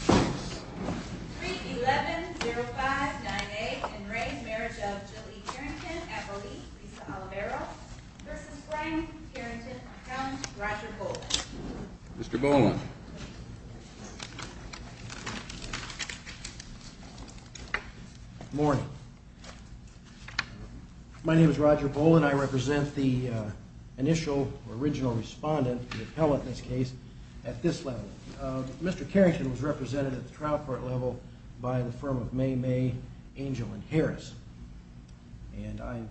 Appellate, Lisa Olivero v. Frank Carrington, Appellant, Roger Boland Mr. Boland Morning. My name is Roger Boland. I represent the initial or original respondent, the appellant in this case, at this level. Mr. Carrington was represented at the trial court level by the firm of May May, Angel, and Harris. And I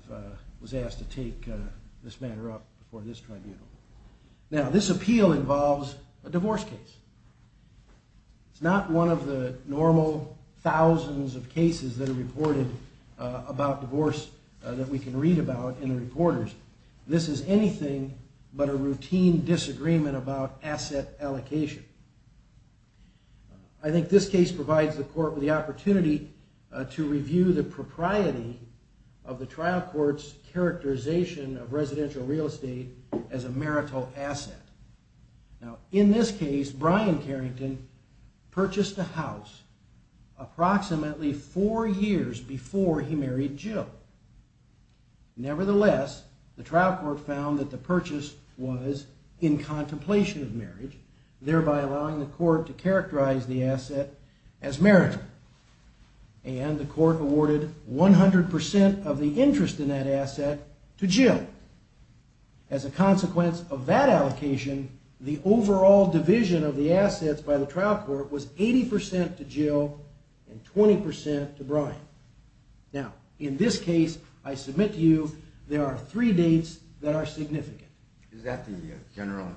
was asked to take this matter up before this tribunal. Now this appeal involves a divorce case. It's not one of the normal thousands of cases that are reported about divorce that we can read about in the reporters. This is anything but a routine disagreement about asset allocation. I think this case provides the court with the opportunity to review the propriety of the trial court's characterization of residential real estate as a marital asset. Now in this case, Brian Carrington purchased a house approximately four years before he married Jill. Nevertheless, the trial court found that the purchase was in contemplation of marriage, thereby allowing the court to characterize the asset as marital. And the court awarded 100% of the interest in that asset to Jill. As a consequence of that allocation, the overall division of the assets by the trial court was 80% to Jill and 20% to Brian. Now in this case, I submit to you, there are three dates that are significant. Is that the general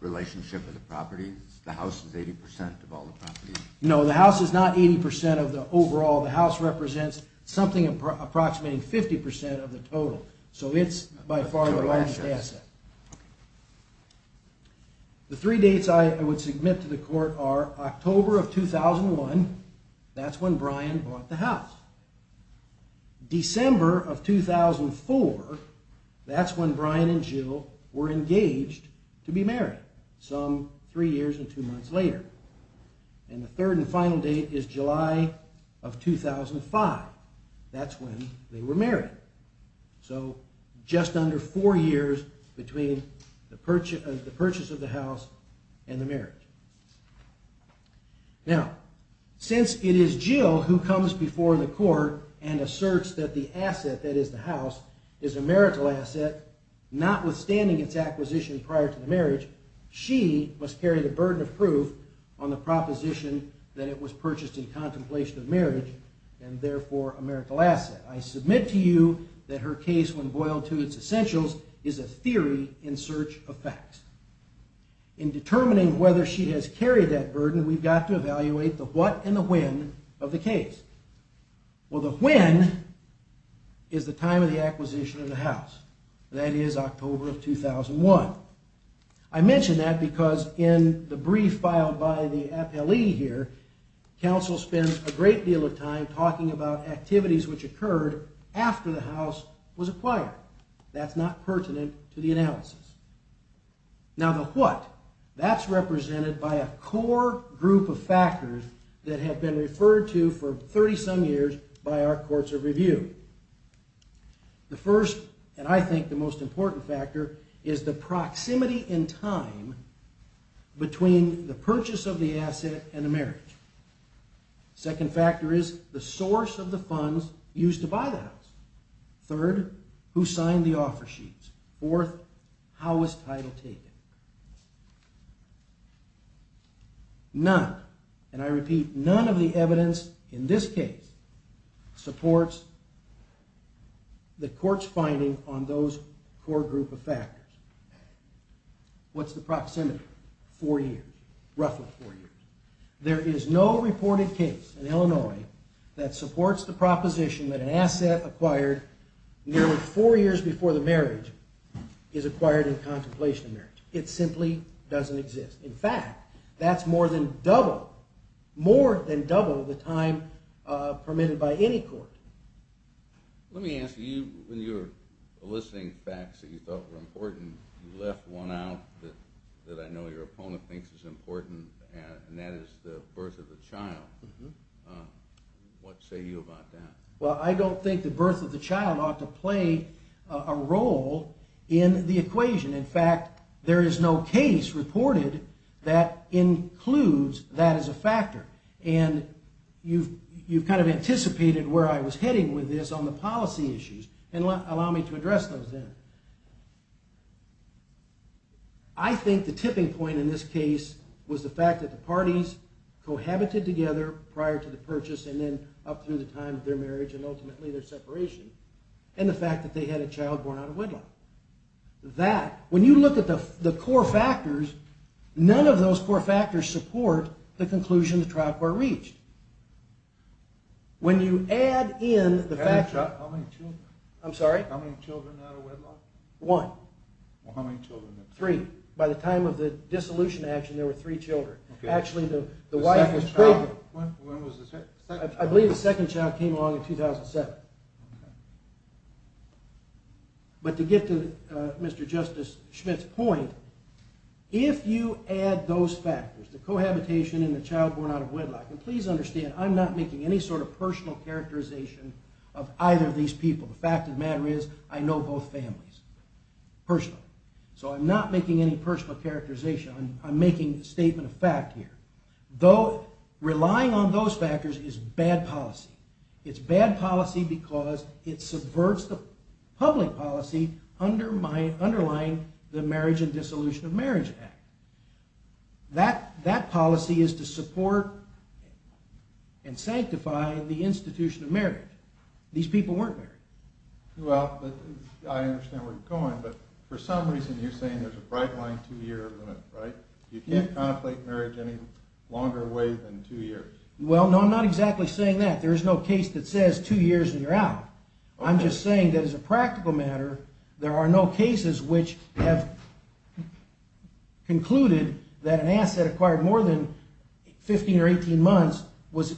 relationship of the properties? The house is 80% of all the properties? No, the house is not 80% of the overall. The house represents something approximating 50% of the total. So it's by far the largest asset. The three dates I would submit to the court are October of 2001, that's when Brian bought the house. December of 2004, that's when Brian and Jill were engaged to be married, some three years and two months later. And the third and final date is July of 2005, that's when they were married. So just under four years between the purchase of the house and the marriage. Now, since it is Jill who purchased a marital asset, notwithstanding its acquisition prior to the marriage, she must carry the burden of proof on the proposition that it was purchased in contemplation of marriage and therefore a marital asset. I submit to you that her case, when boiled to its essentials, is a theory in search of facts. In determining whether she has carried that burden, we've got to evaluate the what and the when of the case. Well, the when is the time of the acquisition of the house, that is October of 2001. I mention that because in the brief filed by the appellee here, counsel spends a great deal of time talking about activities which occurred after the house was acquired. That's not pertinent to the analysis. Now the what, that's represented by a core group of factors that have been referred to for 30 some years by our courts of review. The first, and I think the most important factor, is the proximity in time between the purchase of the asset and the marriage. Second factor is the source of the funds used to buy the house. Third, who and I repeat none of the evidence in this case supports the court's finding on those core group of factors. What's the proximity? Four years, roughly four years. There is no reported case in Illinois that supports the proposition that an asset acquired nearly four years before the marriage is acquired in contemplation of marriage. It simply doesn't exist. In fact, that's more than double the time permitted by any court. Let me ask you, when you were listing facts that you thought were important, you left one out that I know your opponent thinks is important, and that is the birth of the child. What say you about that? Well, I don't think the birth of the child ought to play a role in the equation. In fact, there is no case reported that includes that as a factor, and you've kind of anticipated where I was heading with this on the policy issues, and allow me to address those then. I think the tipping point in this case was the fact that the parties cohabited together prior to the purchase, and then up through the time of their marriage, and ultimately their had a child born out of wedlock. That, when you look at the core factors, none of those core factors support the conclusion the trial court reached. When you add in the fact that, I'm sorry? How many children out of wedlock? One. Well, how many children? Three. By the time of the dissolution action, there were three children. Actually, the wife was pregnant. When was the second? I believe the second child came along in 2007. But to get to Mr. Justice Schmidt's point, if you add those factors, the cohabitation and the child born out of wedlock, and please understand, I'm not making any sort of personal characterization of either of these people. The fact of the matter is, I know both families personally, so I'm not making any personal characterization. I'm making a statement of fact here. Relying on those factors is bad policy. It's bad policy because it subverts the public policy underlying the Marriage and Dissolution of Marriage Act. That policy is to support and sanctify the institution of marriage. These people weren't married. Well, I understand where you're going, but for some reason you're saying there's a bright line two-year limit, right? You can't contemplate marriage any longer away than two years. Well, no, I'm not exactly saying that. There's no case that says two years and you're out. I'm just saying that as a practical matter, there are no cases which have concluded that an asset acquired more than 15 or 18 months was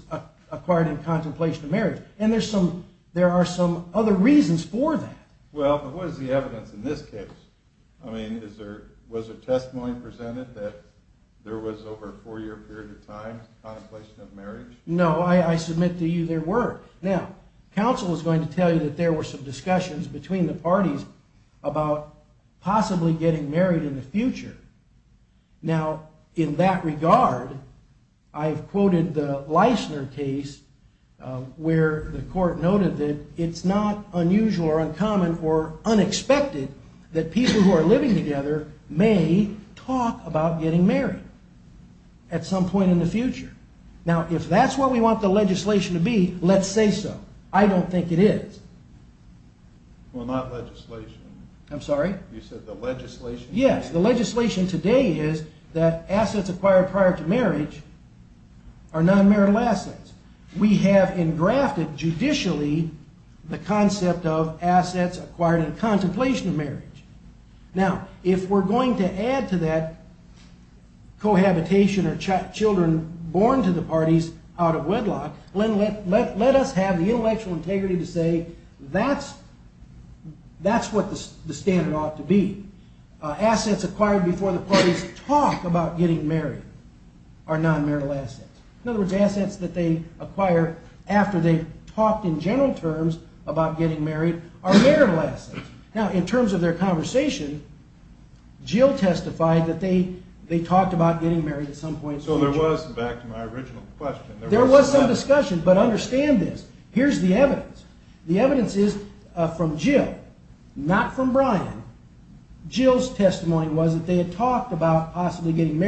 acquired in contemplation of marriage. And there are some other reasons for that. Well, but what is the evidence in this case? I mean, was there testimony presented that there was over a four-year period of time contemplation of marriage? No, I submit to you there were. Now, counsel is going to tell you that there were some discussions between the parties about possibly getting married in the future. Now, in that regard, I've quoted the Leisner case where the court noted that it's not unusual or uncommon or unexpected that people who are living together may talk about getting married at some point in the future. Now, if that's what we want the legislation to be, let's say so. I don't think it is. Well, not legislation. I'm sorry? You said the legislation? Yes, the legislation today is that assets judicially the concept of assets acquired in contemplation of marriage. Now, if we're going to add to that cohabitation or children born to the parties out of wedlock, then let us have the intellectual integrity to say that's what the standard ought to be. Assets acquired before the talked in general terms about getting married are marital assets. Now, in terms of their conversation, Jill testified that they talked about getting married at some point. So there was, back to my original question, there was some discussion, but understand this. Here's the evidence. The evidence is from Jill, not from Brian. Jill's testimony was that they had talked about possibly getting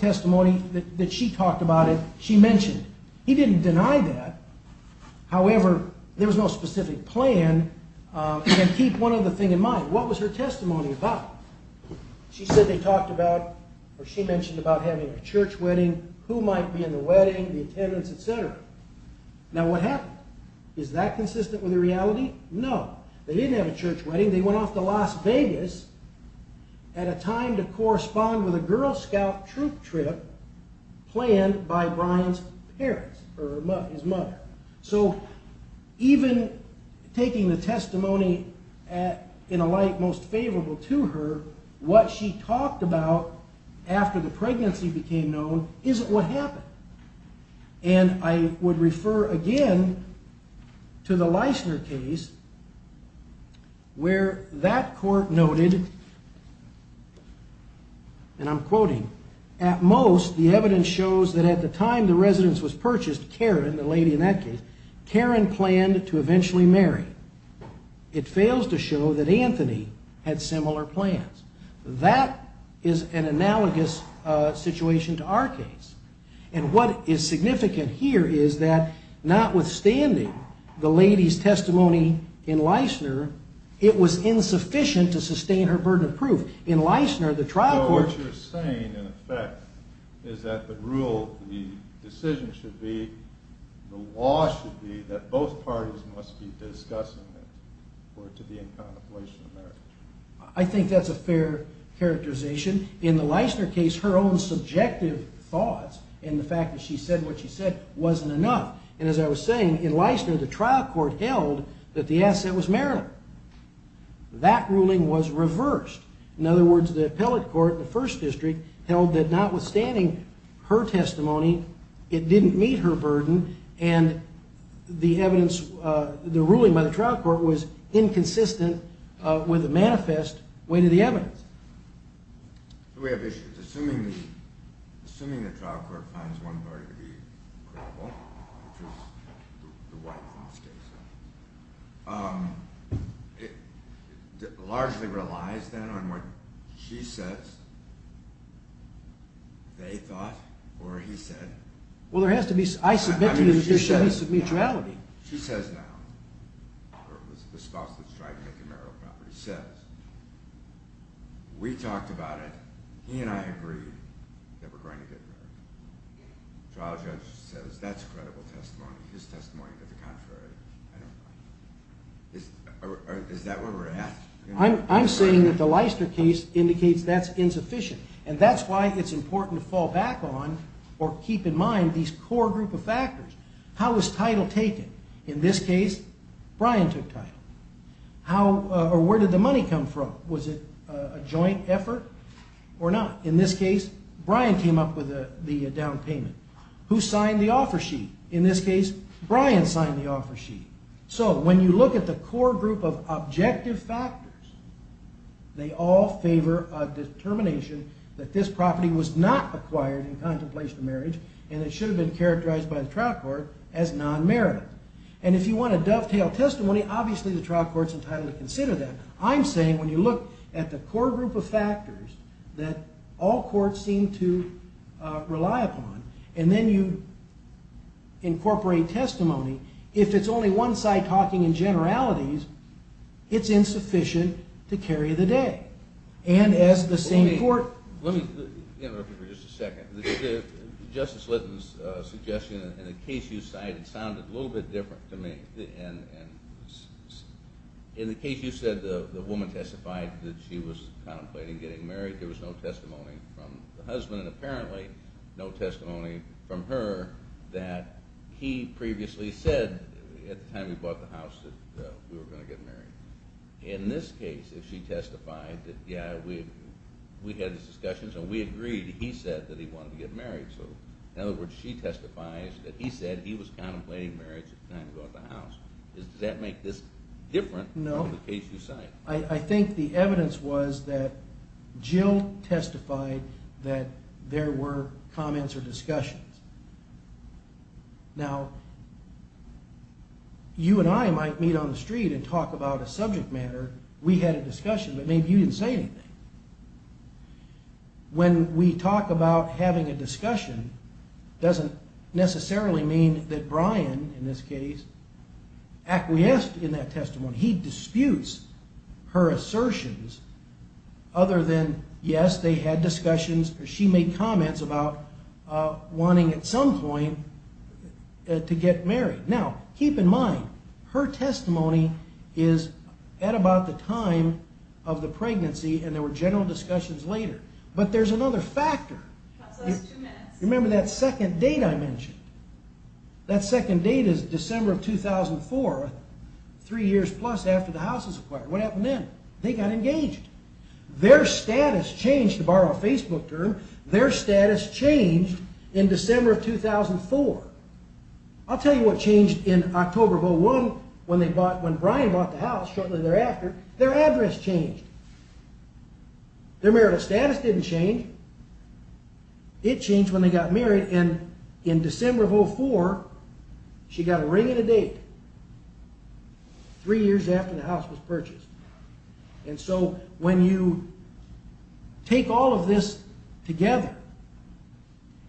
testimony that she talked about it, she mentioned. He didn't deny that. However, there was no specific plan. And keep one other thing in mind. What was her testimony about? She said they talked about or she mentioned about having a church wedding, who might be in the wedding, the attendance, etc. Now, what happened? Is that consistent with the reality? No, they didn't have a church wedding. They went off to Las Vegas at a time to correspond with a Girl Scout troop trip planned by Brian's parents, or his mother. So even taking the testimony in a light most favorable to her, what she talked about after the pregnancy became known isn't what happened. And I would refer again to the Leissner case, where that court noted, and I'm quoting, at most the evidence shows that at the time the residence was purchased, Karen, the lady in that case, Karen planned to eventually marry. It fails to show that Anthony had similar plans. That is an analogous situation to our case. And what is in Leissner, it was insufficient to sustain her burden of proof. In Leissner, the trial court... What you're saying, in effect, is that the rule, the decision should be, the law should be, that both parties must be discussing it or to be in contemplation of marriage. I think that's a fair characterization. In the Leissner case, her own subjective thoughts and the fact that she said what she said wasn't enough. And as I was saying, in Leissner, the trial court held that the asset was marital. That ruling was reversed. In other words, the appellate court, the First District, held that notwithstanding her testimony, it didn't meet her burden, and the evidence, the ruling by the trial court was inconsistent with a manifest way to the evidence. We have two issues. Assuming the trial court finds one party to be criminal, which was the wife in this case, it largely relies then on what she says, they thought, or he said. Well, there has to be, I says now, the spouse that's trying to make a marital property says, we talked about it, he and I agreed that we're going to get married. The trial judge says that's credible testimony, his testimony, but the contrary, I don't buy it. Is that what we're asking? I'm saying that the Leissner case indicates that's insufficient, and that's why it's important to fall back on or keep in mind these core group of factors. How was title taken? In this case, Brian took title. How, or where did the money come from? Was it a joint effort or not? In this case, Brian came up with the down payment. Who signed the offer sheet? In this case, Brian signed the offer sheet. So when you look at the core group of objective factors, they all favor a determination that this property was not acquired in contemplation of the marriage, and it should have been characterized by the trial court as non-marital. And if you want to dovetail testimony, obviously the trial court's entitled to consider that. I'm saying when you look at the core group of factors that all courts seem to rely upon, and then you incorporate testimony, if it's only one side talking in generalities, it's insufficient to carry the day. And as the same court... Just a second. Justice Litton's suggestion in the case you cited sounded a little bit different to me. In the case you said the woman testified that she was contemplating getting married, there was no testimony from the husband, and apparently no testimony from her that he previously said at the time he bought the house that we were going to get married. So in other words, she testifies that he said he was contemplating marriage at the time he bought the house. Does that make this different from the case you cite? No. I think the evidence was that Jill testified that there were comments or discussions. Now, you and I might meet on the street and talk about a subject matter. We had a discussion. When we talk about having a discussion, it doesn't necessarily mean that Brian, in this case, acquiesced in that testimony. He disputes her assertions other than, yes, they had discussions or she made comments about wanting at some point to get married. Now, keep in mind, her testimony is at about the time of the pregnancy and there were general discussions later. But there's another factor. Remember that second date I mentioned? That second date is December of 2004, three years plus after the house was acquired. What happened then? They got engaged. Their status changed, to borrow a I'll tell you what changed in October of 2001, when Brian bought the house shortly thereafter, their address changed. Their marital status didn't change. It changed when they got married and in December of 2004, she got a ring and a date, three years after the house was purchased. And so when you take all of this together,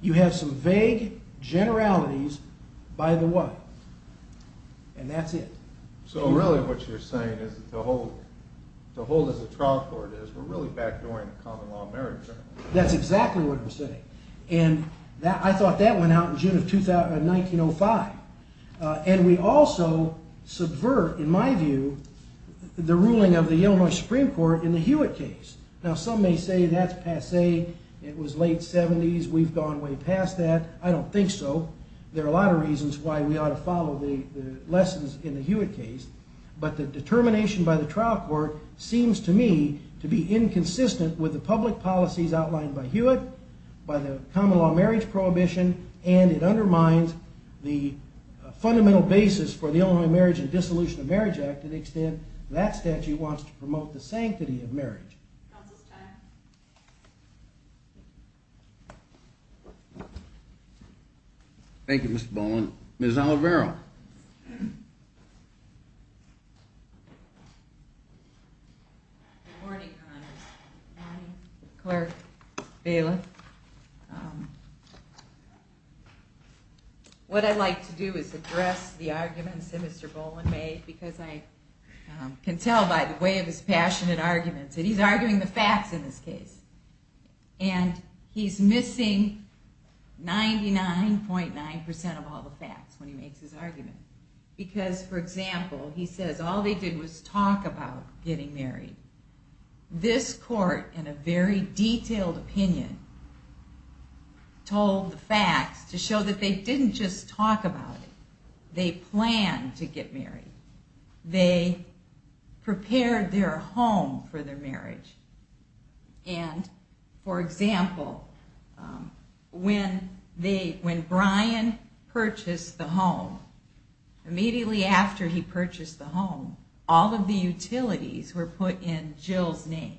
you have some vague generalities by the wife. And that's it. So really what you're saying is to hold as a trial court is, we're really back doing a common law marriage. That's exactly what I'm saying. And I thought that went out in June of 1905. And we also subvert, in my view, the ruling of the Illinois Supreme Court in the Hewitt case. Now, some may say that's passe. It was late 70s. We've gone way past that. I don't think so. There are a lot of reasons why we ought to follow the lessons in the Hewitt case. But the determination by the trial court seems to me to be inconsistent with the public policies outlined by Hewitt, by the common law marriage prohibition, and it undermines the fundamental basis for the Illinois Marriage and Dissolution of Marriage Act to the extent that statute wants to promote the sanctity of marriage. Counsel's time. Thank you, Mr. Boland. Ms. Oliveira. Good morning, Congress. Good morning, Clerk. What I'd like to do is address the arguments that Mr. Boland made because I can tell by the way of his passionate arguments that he's arguing the facts in this case. And he's missing 99.9% of all the facts when he makes his argument. Because, for example, he says all they did was talk about getting married. This court, in a very detailed opinion, told the facts to show that they didn't just talk about it. They planned to get married. They prepared their home for their marriage. And, for example, when Brian purchased the home, immediately after he purchased the home, all of the utilities were put in Jill's name.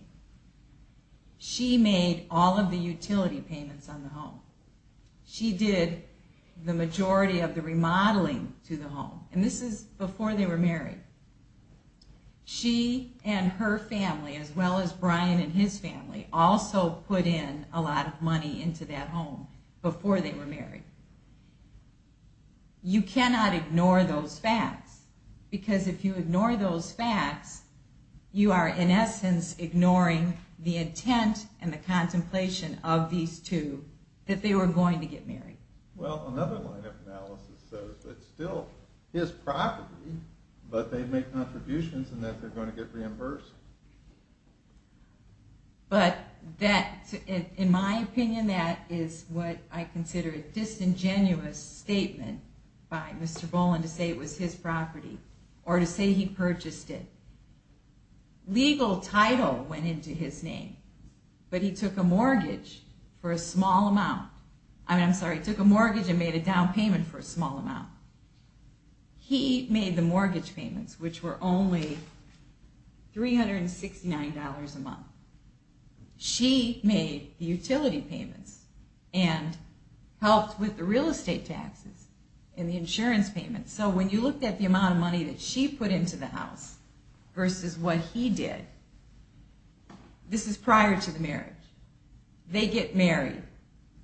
She made all of the utility payments on the home. She did the majority of the remodeling to the home. And this is before they were married. She and her family, as well as Brian and his family, also put in a lot of money into that home before they were married. You cannot ignore those facts. Because if you ignore those facts, you are in essence ignoring the Well, another line of analysis says that it's still his property, but they make contributions and that they're going to get reimbursed. But in my opinion, that is what I consider a disingenuous statement by Mr. Boland to say it was his property, or to say he purchased it. Legal title went into his name, but he took a mortgage for a small amount. I'm sorry, he took a mortgage and made a down payment for a small amount. He made the mortgage payments, which were only $369 a month. She made the utility payments and helped with the real estate taxes and the insurance payments. So when you look at the amount of money that she put into the house versus what he did, this is prior to the marriage. They get married.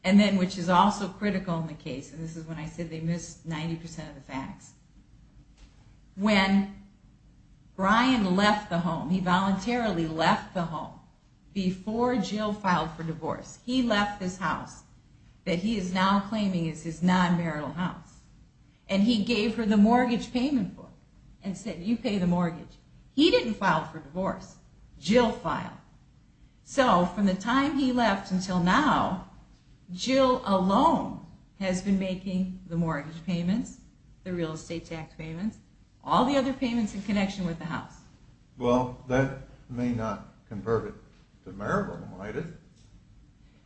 And then, which is also critical in the case, and this is when I said they missed 90% of the facts, when Brian left the home, he voluntarily left the home before Jill filed for divorce. He left this house that he is now claiming is his non-marital house, and he gave her the mortgage payment for it and said, you pay the mortgage. He didn't file for divorce. Jill filed. So from the time he left until now, Jill alone has been making the mortgage payments, the real estate tax payments, all the other payments in connection with the house. Well, that may not convert it to marital, might it?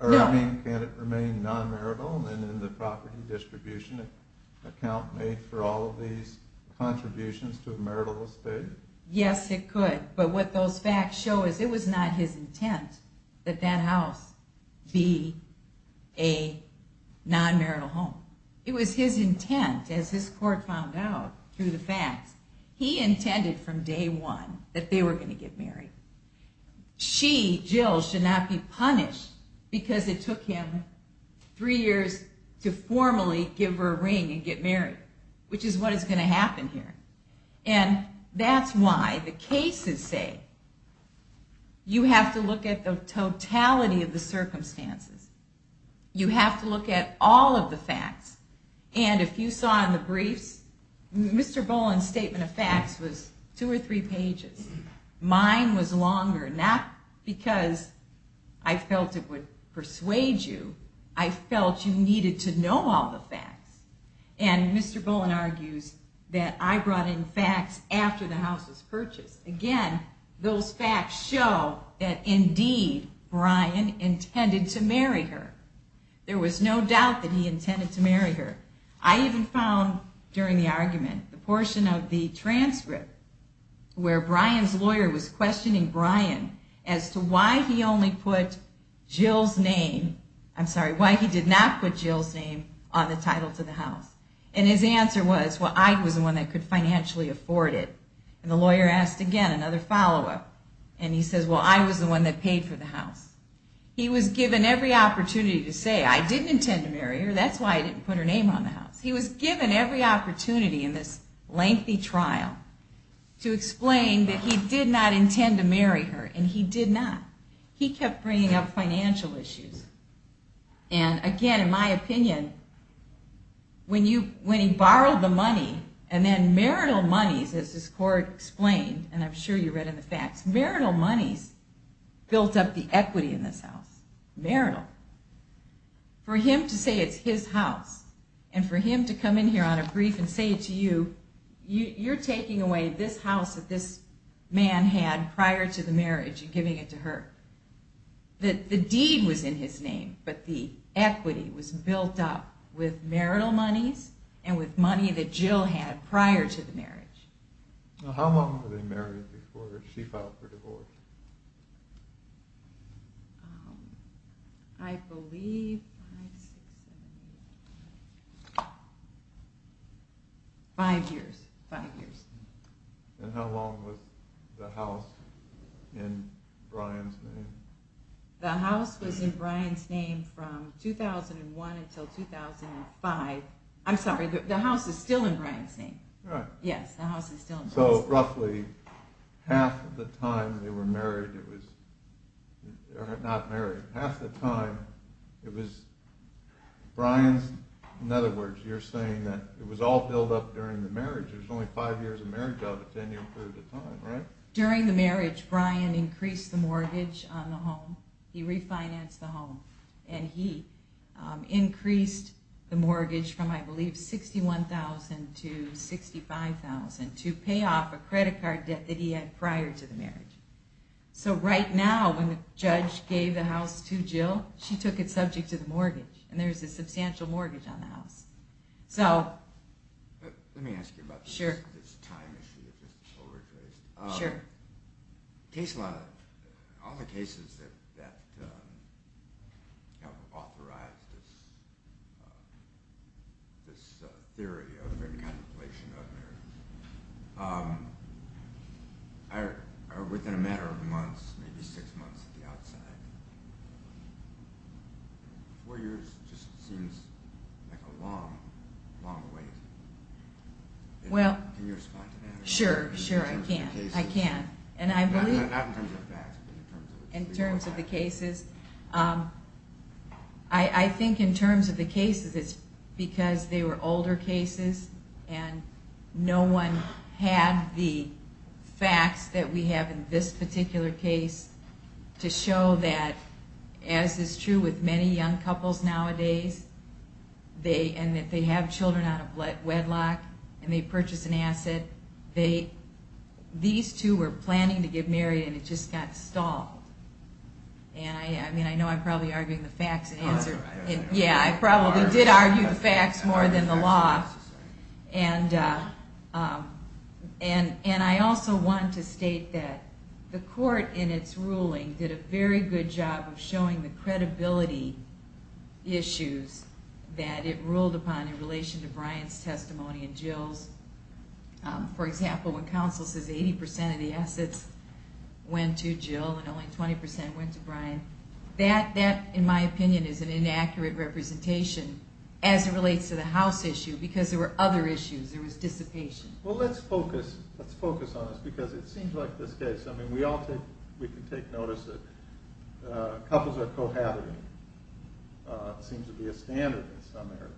Or I mean, can it remain non-marital and in the property distribution account made for all of these contributions to a marital estate? Yes, it could. But what those facts show is it was not his intent that that house be a non-marital home. It was his intent, as his court found out through the facts. He intended from day one that they were going to get married. She, Jill, should not be punished because it took him three years to formally give her a ring and get married, which is what is going to happen here. And that's why the cases say you have to look at the totality of the circumstances. You have to look at all of the facts. And if you saw in the briefs, Mr. Boland's statement of facts was two or three pages. Mine was longer, not because I felt it would persuade you. I felt you needed to know all the facts. And Mr. Boland argues that I brought in facts after the house was purchased. Again, those facts show that, indeed, Brian intended to marry her. There was no doubt that he intended to marry her. I even found, during the argument, the portion of the I'm sorry, why he did not put Jill's name on the title to the house. And his answer was, well, I was the one that could financially afford it. And the lawyer asked again, another follow-up, and he says, well, I was the one that paid for the house. He was given every opportunity to say, I didn't intend to marry her. That's why I didn't put her name on the house. He was given every opportunity in this lengthy trial to explain that he did not intend to marry her, and he did not. He kept bringing up financial issues. And again, in my opinion, when he borrowed the money, and then marital monies, as this court explained, and I'm sure you read in the facts, marital monies built up the And for him to come in here on a brief and say to you, you're taking away this house that this man had prior to the marriage and giving it to her. The deed was in his name, but the equity was built up with marital Five years. And how long was the house in Brian's name? The house was in Brian's name from 2001 until 2005. I'm sorry, the house is still in Brian's name. Right. So roughly half the time they were married, or not married, half the time, it was Brian's, in other words, you're saying that it was all built up during the marriage. There's only five years of marriage out of it. During the marriage, Brian increased the mortgage on the home. He refinanced the home. And he increased the mortgage from, I believe, $61,000 to $65,000 to pay off a credit card debt that he had prior to the marriage. So right now, when the judge gave the house to Jill, she took it subject to the mortgage. And there's a substantial mortgage on the house. Let me ask you about this time issue. All the cases that have authorized this theory of contemplation of marriage are within a matter of months, maybe six months at the outside. Four years just seems like a long, long wait. Can you respond to that? Sure, sure, I can. I can. Not in terms of facts, but in terms of the cases. I think in terms of the cases, it's because they were older cases and no one had the facts that we have in this particular case to show that, as is true with many young couples nowadays, and that they have children out of wedlock and they purchase an asset, that these two were planning to get married and it just got stalled. And I know I'm probably arguing the facts. Yeah, I probably did argue the facts more than the law. And I also want to state that the court in its ruling did a very good job of showing the credibility issues that it ruled upon in relation to Brian's testimony and Jill's. For example, when counsel says 80% of the assets went to Jill and only 20% went to Brian, that, in my opinion, is an inaccurate representation as it relates to the house issue because there were other issues. There was dissipation. Well, let's focus on this because it seems like this case, we can take notice that couples are cohabiting. It seems to be a standard in some areas.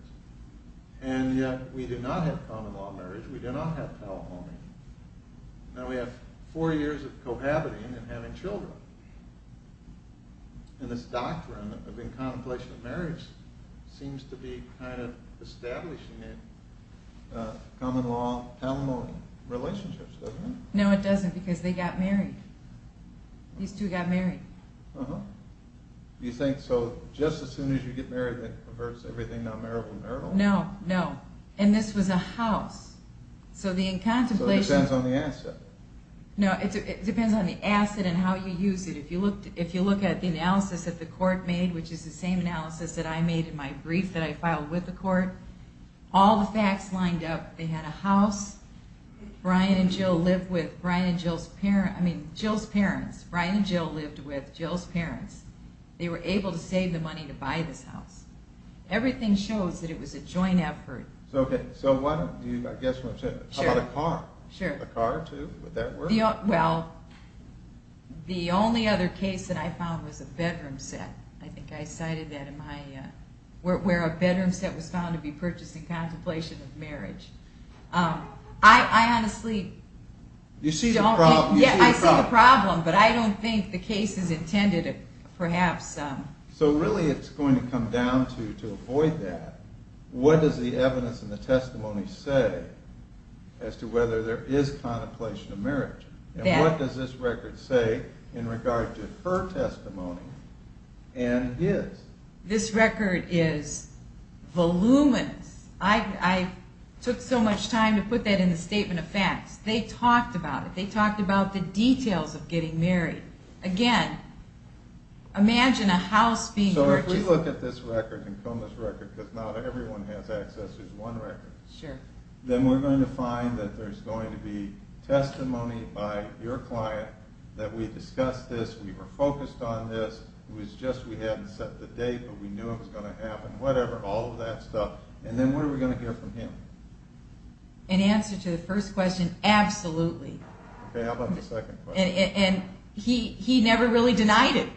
And yet we do not have common law marriage, we do not have telephony. Now we have four years of cohabiting and having children. And this doctrine of incontemplation of marriage seems to be kind of establishing it. Common law, talimony, relationships, doesn't it? No, it doesn't because they got married. These two got married. Uh-huh. You think so just as soon as you get married that converts everything non-marital to marital? No, no. And this was a house. So the incontemplation... So it depends on the asset. No, it depends on the asset and how you use it. If you look at the analysis that the court made, which is the same analysis that I made in my brief that I filed with the court, all the facts lined up. They had a house. Brian and Jill lived with Brian and Jill's parents. I mean Jill's parents. Brian and Jill lived with Jill's parents. They were able to save the money to buy this house. Everything shows that it was a joint effort. So what, I guess, how about a car? Sure. A car too? Would that work? Well, the only other case that I found was a bedroom set. I think I cited that in my, where a bedroom set was found to be purchased in contemplation of marriage. I honestly... You see the problem. Yeah, I see the problem, but I don't think the case is intended perhaps... So really it's going to come down to, to avoid that, what does the evidence in the testimony say as to whether there is contemplation of marriage? And what does this record say in regard to her testimony and his? This record is voluminous. I took so much time to put that in the statement of facts. They talked about it. They talked about the details of getting married. Again, imagine a house being purchased... But we knew it was going to happen, whatever, all of that stuff. And then what are we going to get from him? In answer to the first question, absolutely. Okay, how about the second question? And he never really denied it.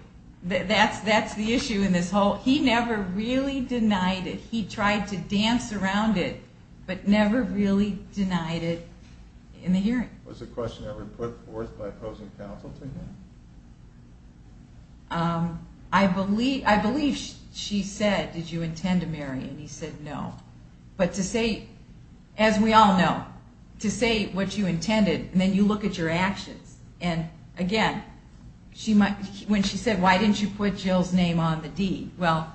That's the issue in this whole, he never really denied it. He tried to dance around it, but never really denied it in the hearing. Was the question ever put forth by opposing counsel to him? I believe she said, did you intend to marry? And he said no. But to say, as we all know, to say what you intended, and then you look at your actions. And again, when she said, why didn't you put Jill's name on the deed? Well,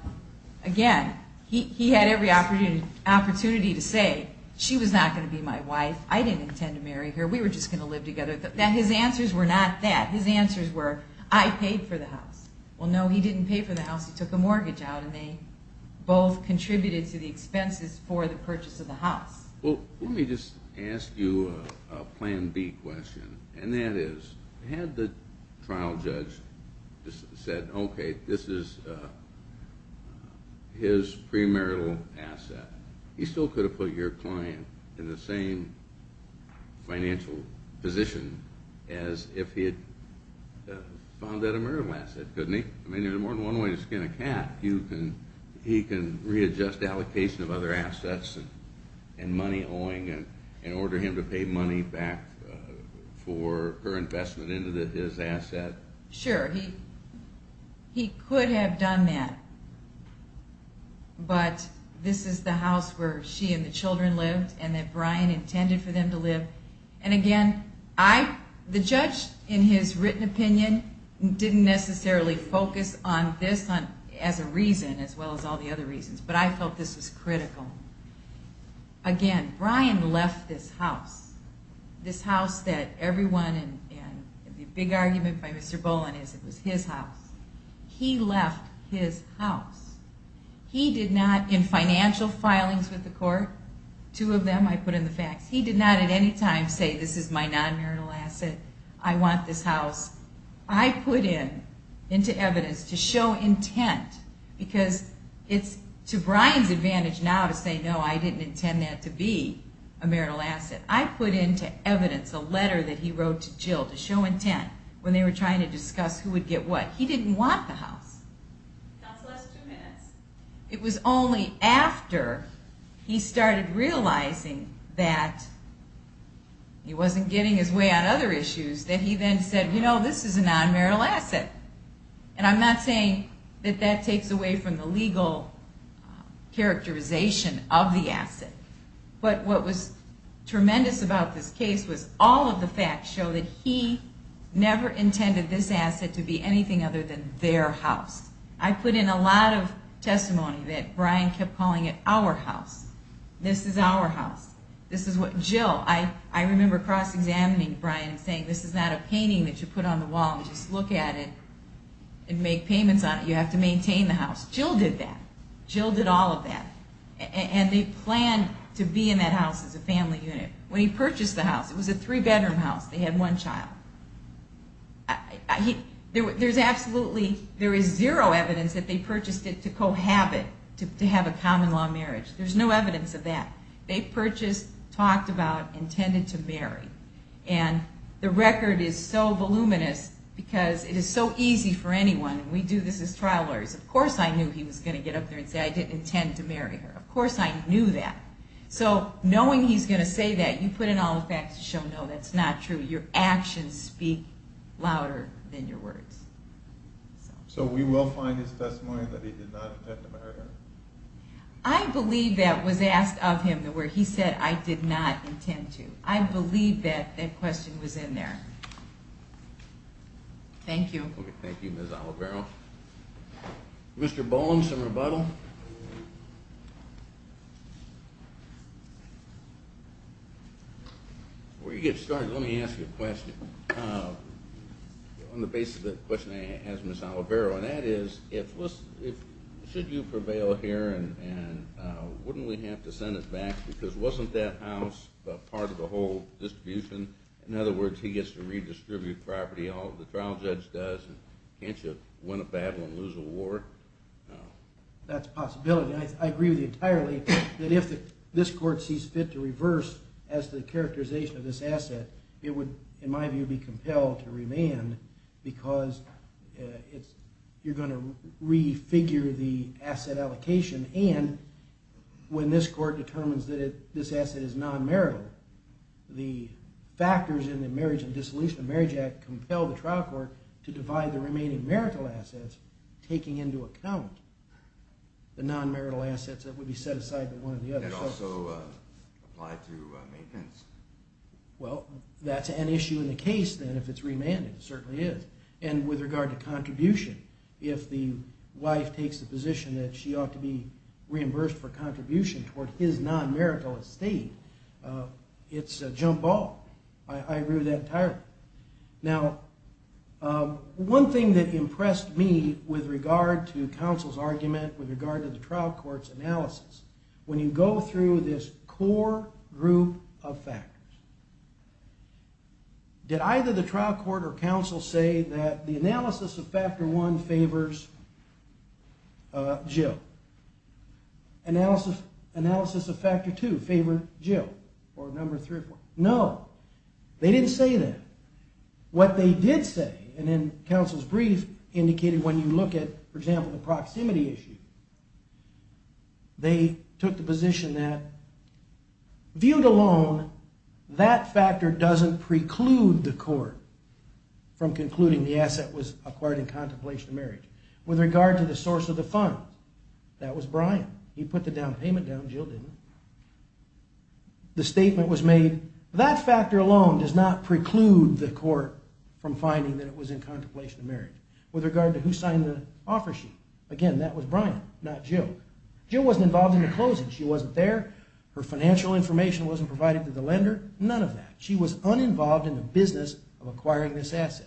again, he had every opportunity to say, she was not going to be my wife. I didn't intend to marry her. We were just going to live together. His answers were not that. His answers were, I paid for the house. Well, no, he didn't pay for the house. He took the mortgage out, and they both contributed to the expenses for the purchase of the house. Well, let me just ask you a plan B question, and that is, had the trial judge said, okay, this is his premarital asset, he still could have put your client in the same financial position as if he had found that a marital asset, couldn't he? I mean, there's more than one way to skin a cat. He can readjust allocation of other assets and money owing and order him to pay money back for her investment into his asset. Sure, he could have done that, but this is the house where she and the children lived and that Brian intended for them to live. And again, the judge, in his written opinion, didn't necessarily focus on this as a reason, as well as all the other reasons, but I felt this was critical. Again, Brian left this house, this house that everyone, and the big argument by Mr. Boland is it was his house. He left his house. He did not, in financial filings with the court, two of them I put in the facts, he did not at any time say this is my nonmarital asset, I want this house. I put into evidence to show intent, because it's to Brian's advantage now to say, no, I didn't intend that to be a marital asset. I put into evidence a letter that he wrote to Jill to show intent when they were trying to discuss who would get what. He didn't want the house. It was only after he started realizing that he wasn't getting his way on other issues that he then said, you know, this is a nonmarital asset. And I'm not saying that that takes away from the legal characterization of the asset. But what was tremendous about this case was all of the facts show that he never intended this asset to be anything other than their house. I put in a lot of testimony that Brian kept calling it our house. This is our house. This is what Jill, I remember cross-examining Brian and saying this is not a painting that you put on the wall and just look at it and make payments on it, you have to maintain the house. Jill did that. Jill did all of that. And they planned to be in that house as a family unit. When he purchased the house, it was a three-bedroom house, they had one child. There's absolutely, there is zero evidence that they purchased it to cohabit, to have a common-law marriage. There's no evidence of that. They purchased, talked about, intended to marry. And the record is so voluminous because it is so easy for anyone. We do this as trial lawyers. Of course I knew he was going to get up there and say I didn't intend to marry her. Of course I knew that. So knowing he's going to say that, you put in all the facts to show no, that's not true. Your actions speak louder than your words. So we will find his testimony that he did not intend to marry her? I believe that was asked of him where he said I did not intend to. I believe that that question was in there. Thank you. Thank you, Ms. Oliveiro. Mr. Boland, some rebuttal? Before you get started, let me ask you a question. On the basis of the question I asked Ms. Oliveiro, and that is, should you prevail here and wouldn't we have to send it back because wasn't that house part of the whole distribution? In other words, he gets to redistribute property, the trial judge does, and can't you win a battle and lose a war? That's a possibility. I agree with you entirely that if this court sees fit to reverse as the characterization of this asset, it would, in my view, be compelled to remand because you're going to refigure the asset allocation. And when this court determines that this asset is non-marital, the factors in the Marriage and Dissolution of Marriage Act compel the trial court to divide the remaining marital assets, taking into account the non-marital assets that would be set aside for one or the other. That also apply to maintenance. Well, that's an issue in the case then if it's remanded, it certainly is. And with regard to contribution, if the wife takes the position that she ought to be reimbursed for contribution toward his non-marital estate, it's a jump ball. I agree with that entirely. Now, one thing that impressed me with regard to counsel's argument with regard to the trial court's analysis, when you go through this core group of factors, did either the trial court or counsel say that the analysis of factor one favors Jill? Analysis of factor two favors Jill, or number three or four? No, they didn't say that. What they did say, and in counsel's brief indicated when you look at, for example, the proximity issue, they took the position that, viewed alone, that factor doesn't preclude the court from concluding the asset was acquired in contemplation of marriage. With regard to the source of the funds, that was Brian. He put the down payment down, Jill didn't. The statement was made, that factor alone does not preclude the court from finding that it was in contemplation of marriage. With regard to who signed the offer sheet, again, that was Brian, not Jill. Jill wasn't involved in the closing, she wasn't there, her financial information wasn't provided to the lender, none of that. She was uninvolved in the business of acquiring this asset.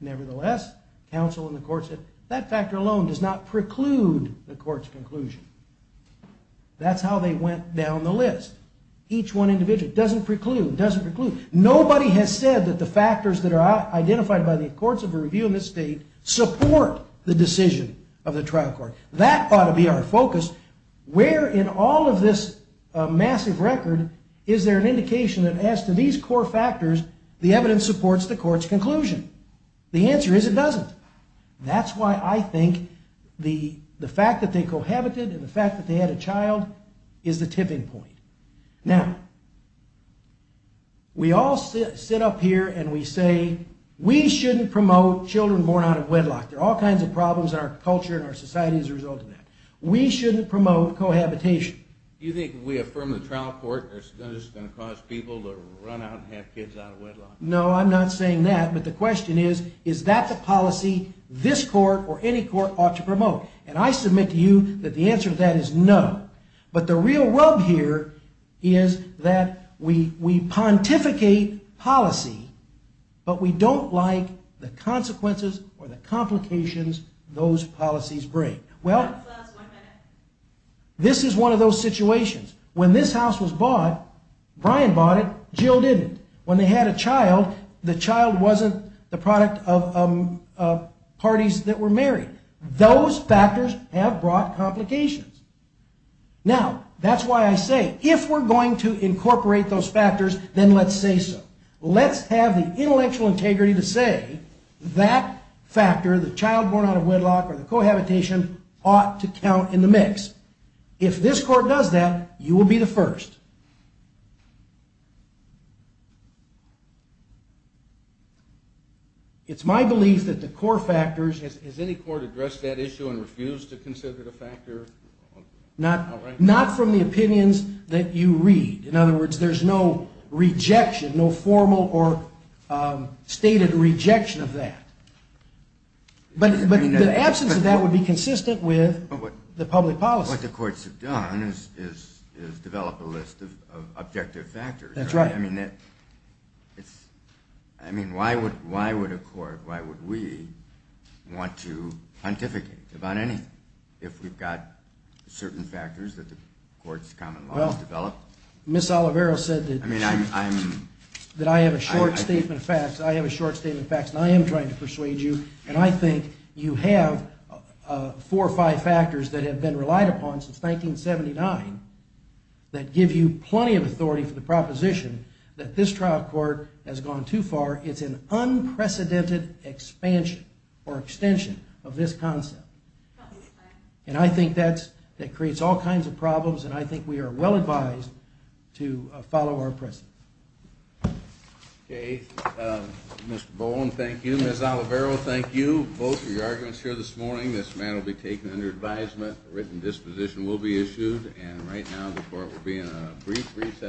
Nevertheless, counsel and the court said, that factor alone does not preclude the court's conclusion. That's how they went down the list. Each one individual, doesn't preclude, doesn't preclude. Nobody has said that the factors that are identified by the courts of review in this state support the decision of the trial court. That ought to be our focus. Where in all of this massive record is there an indication that as to these core factors, the evidence supports the court's conclusion? The answer is, it doesn't. That's why I think the fact that they cohabited and the fact that they had a child is the tipping point. Now, we all sit up here and we say, we shouldn't promote children born out of wedlock. There are all kinds of problems in our culture and our society as a result of that. We shouldn't promote cohabitation. Do you think if we affirm the trial court, it's going to cause people to run out and have kids out of wedlock? No, I'm not saying that. But the question is, is that the policy this court or any court ought to promote? And I submit to you that the answer to that is no. But the real rub here is that we pontificate policy, but we don't like the consequences or the complications those policies bring. Well, this is one of those situations. When this house was bought, Brian bought it, Jill didn't. When they had a child, the child wasn't the product of parties that were married. Those factors have brought complications. Now, that's why I say, if we're going to incorporate those factors, then let's say so. Let's have the intellectual integrity to say that factor, the child born out of wedlock or the cohabitation, ought to count in the mix. If this court does that, you will be the first. It's my belief that the core factors— Has any court addressed that issue and refused to consider the factor? Not from the opinions that you read. In other words, there's no rejection, no formal or stated rejection of that. But the absence of that would be consistent with the public policy. But what the courts have done is develop a list of objective factors. That's right. I mean, why would a court, why would we want to pontificate about anything if we've got certain factors that the court's common law has developed? Ms. Oliveira said that I have a short statement of facts, and I am trying to persuade you, and I think you have four or five factors that have been relied upon since 1979 that give you plenty of authority for the proposition that this trial court has gone too far. It's an unprecedented expansion or extension of this concept. And I think that creates all kinds of problems, and I think we are well advised to follow our precedent. Okay, Mr. Bowen, thank you. Ms. Oliveira, thank you both for your arguments here this morning. This matter will be taken under advisement, a written disposition will be issued, and right now the court will be in a brief recess for a moment.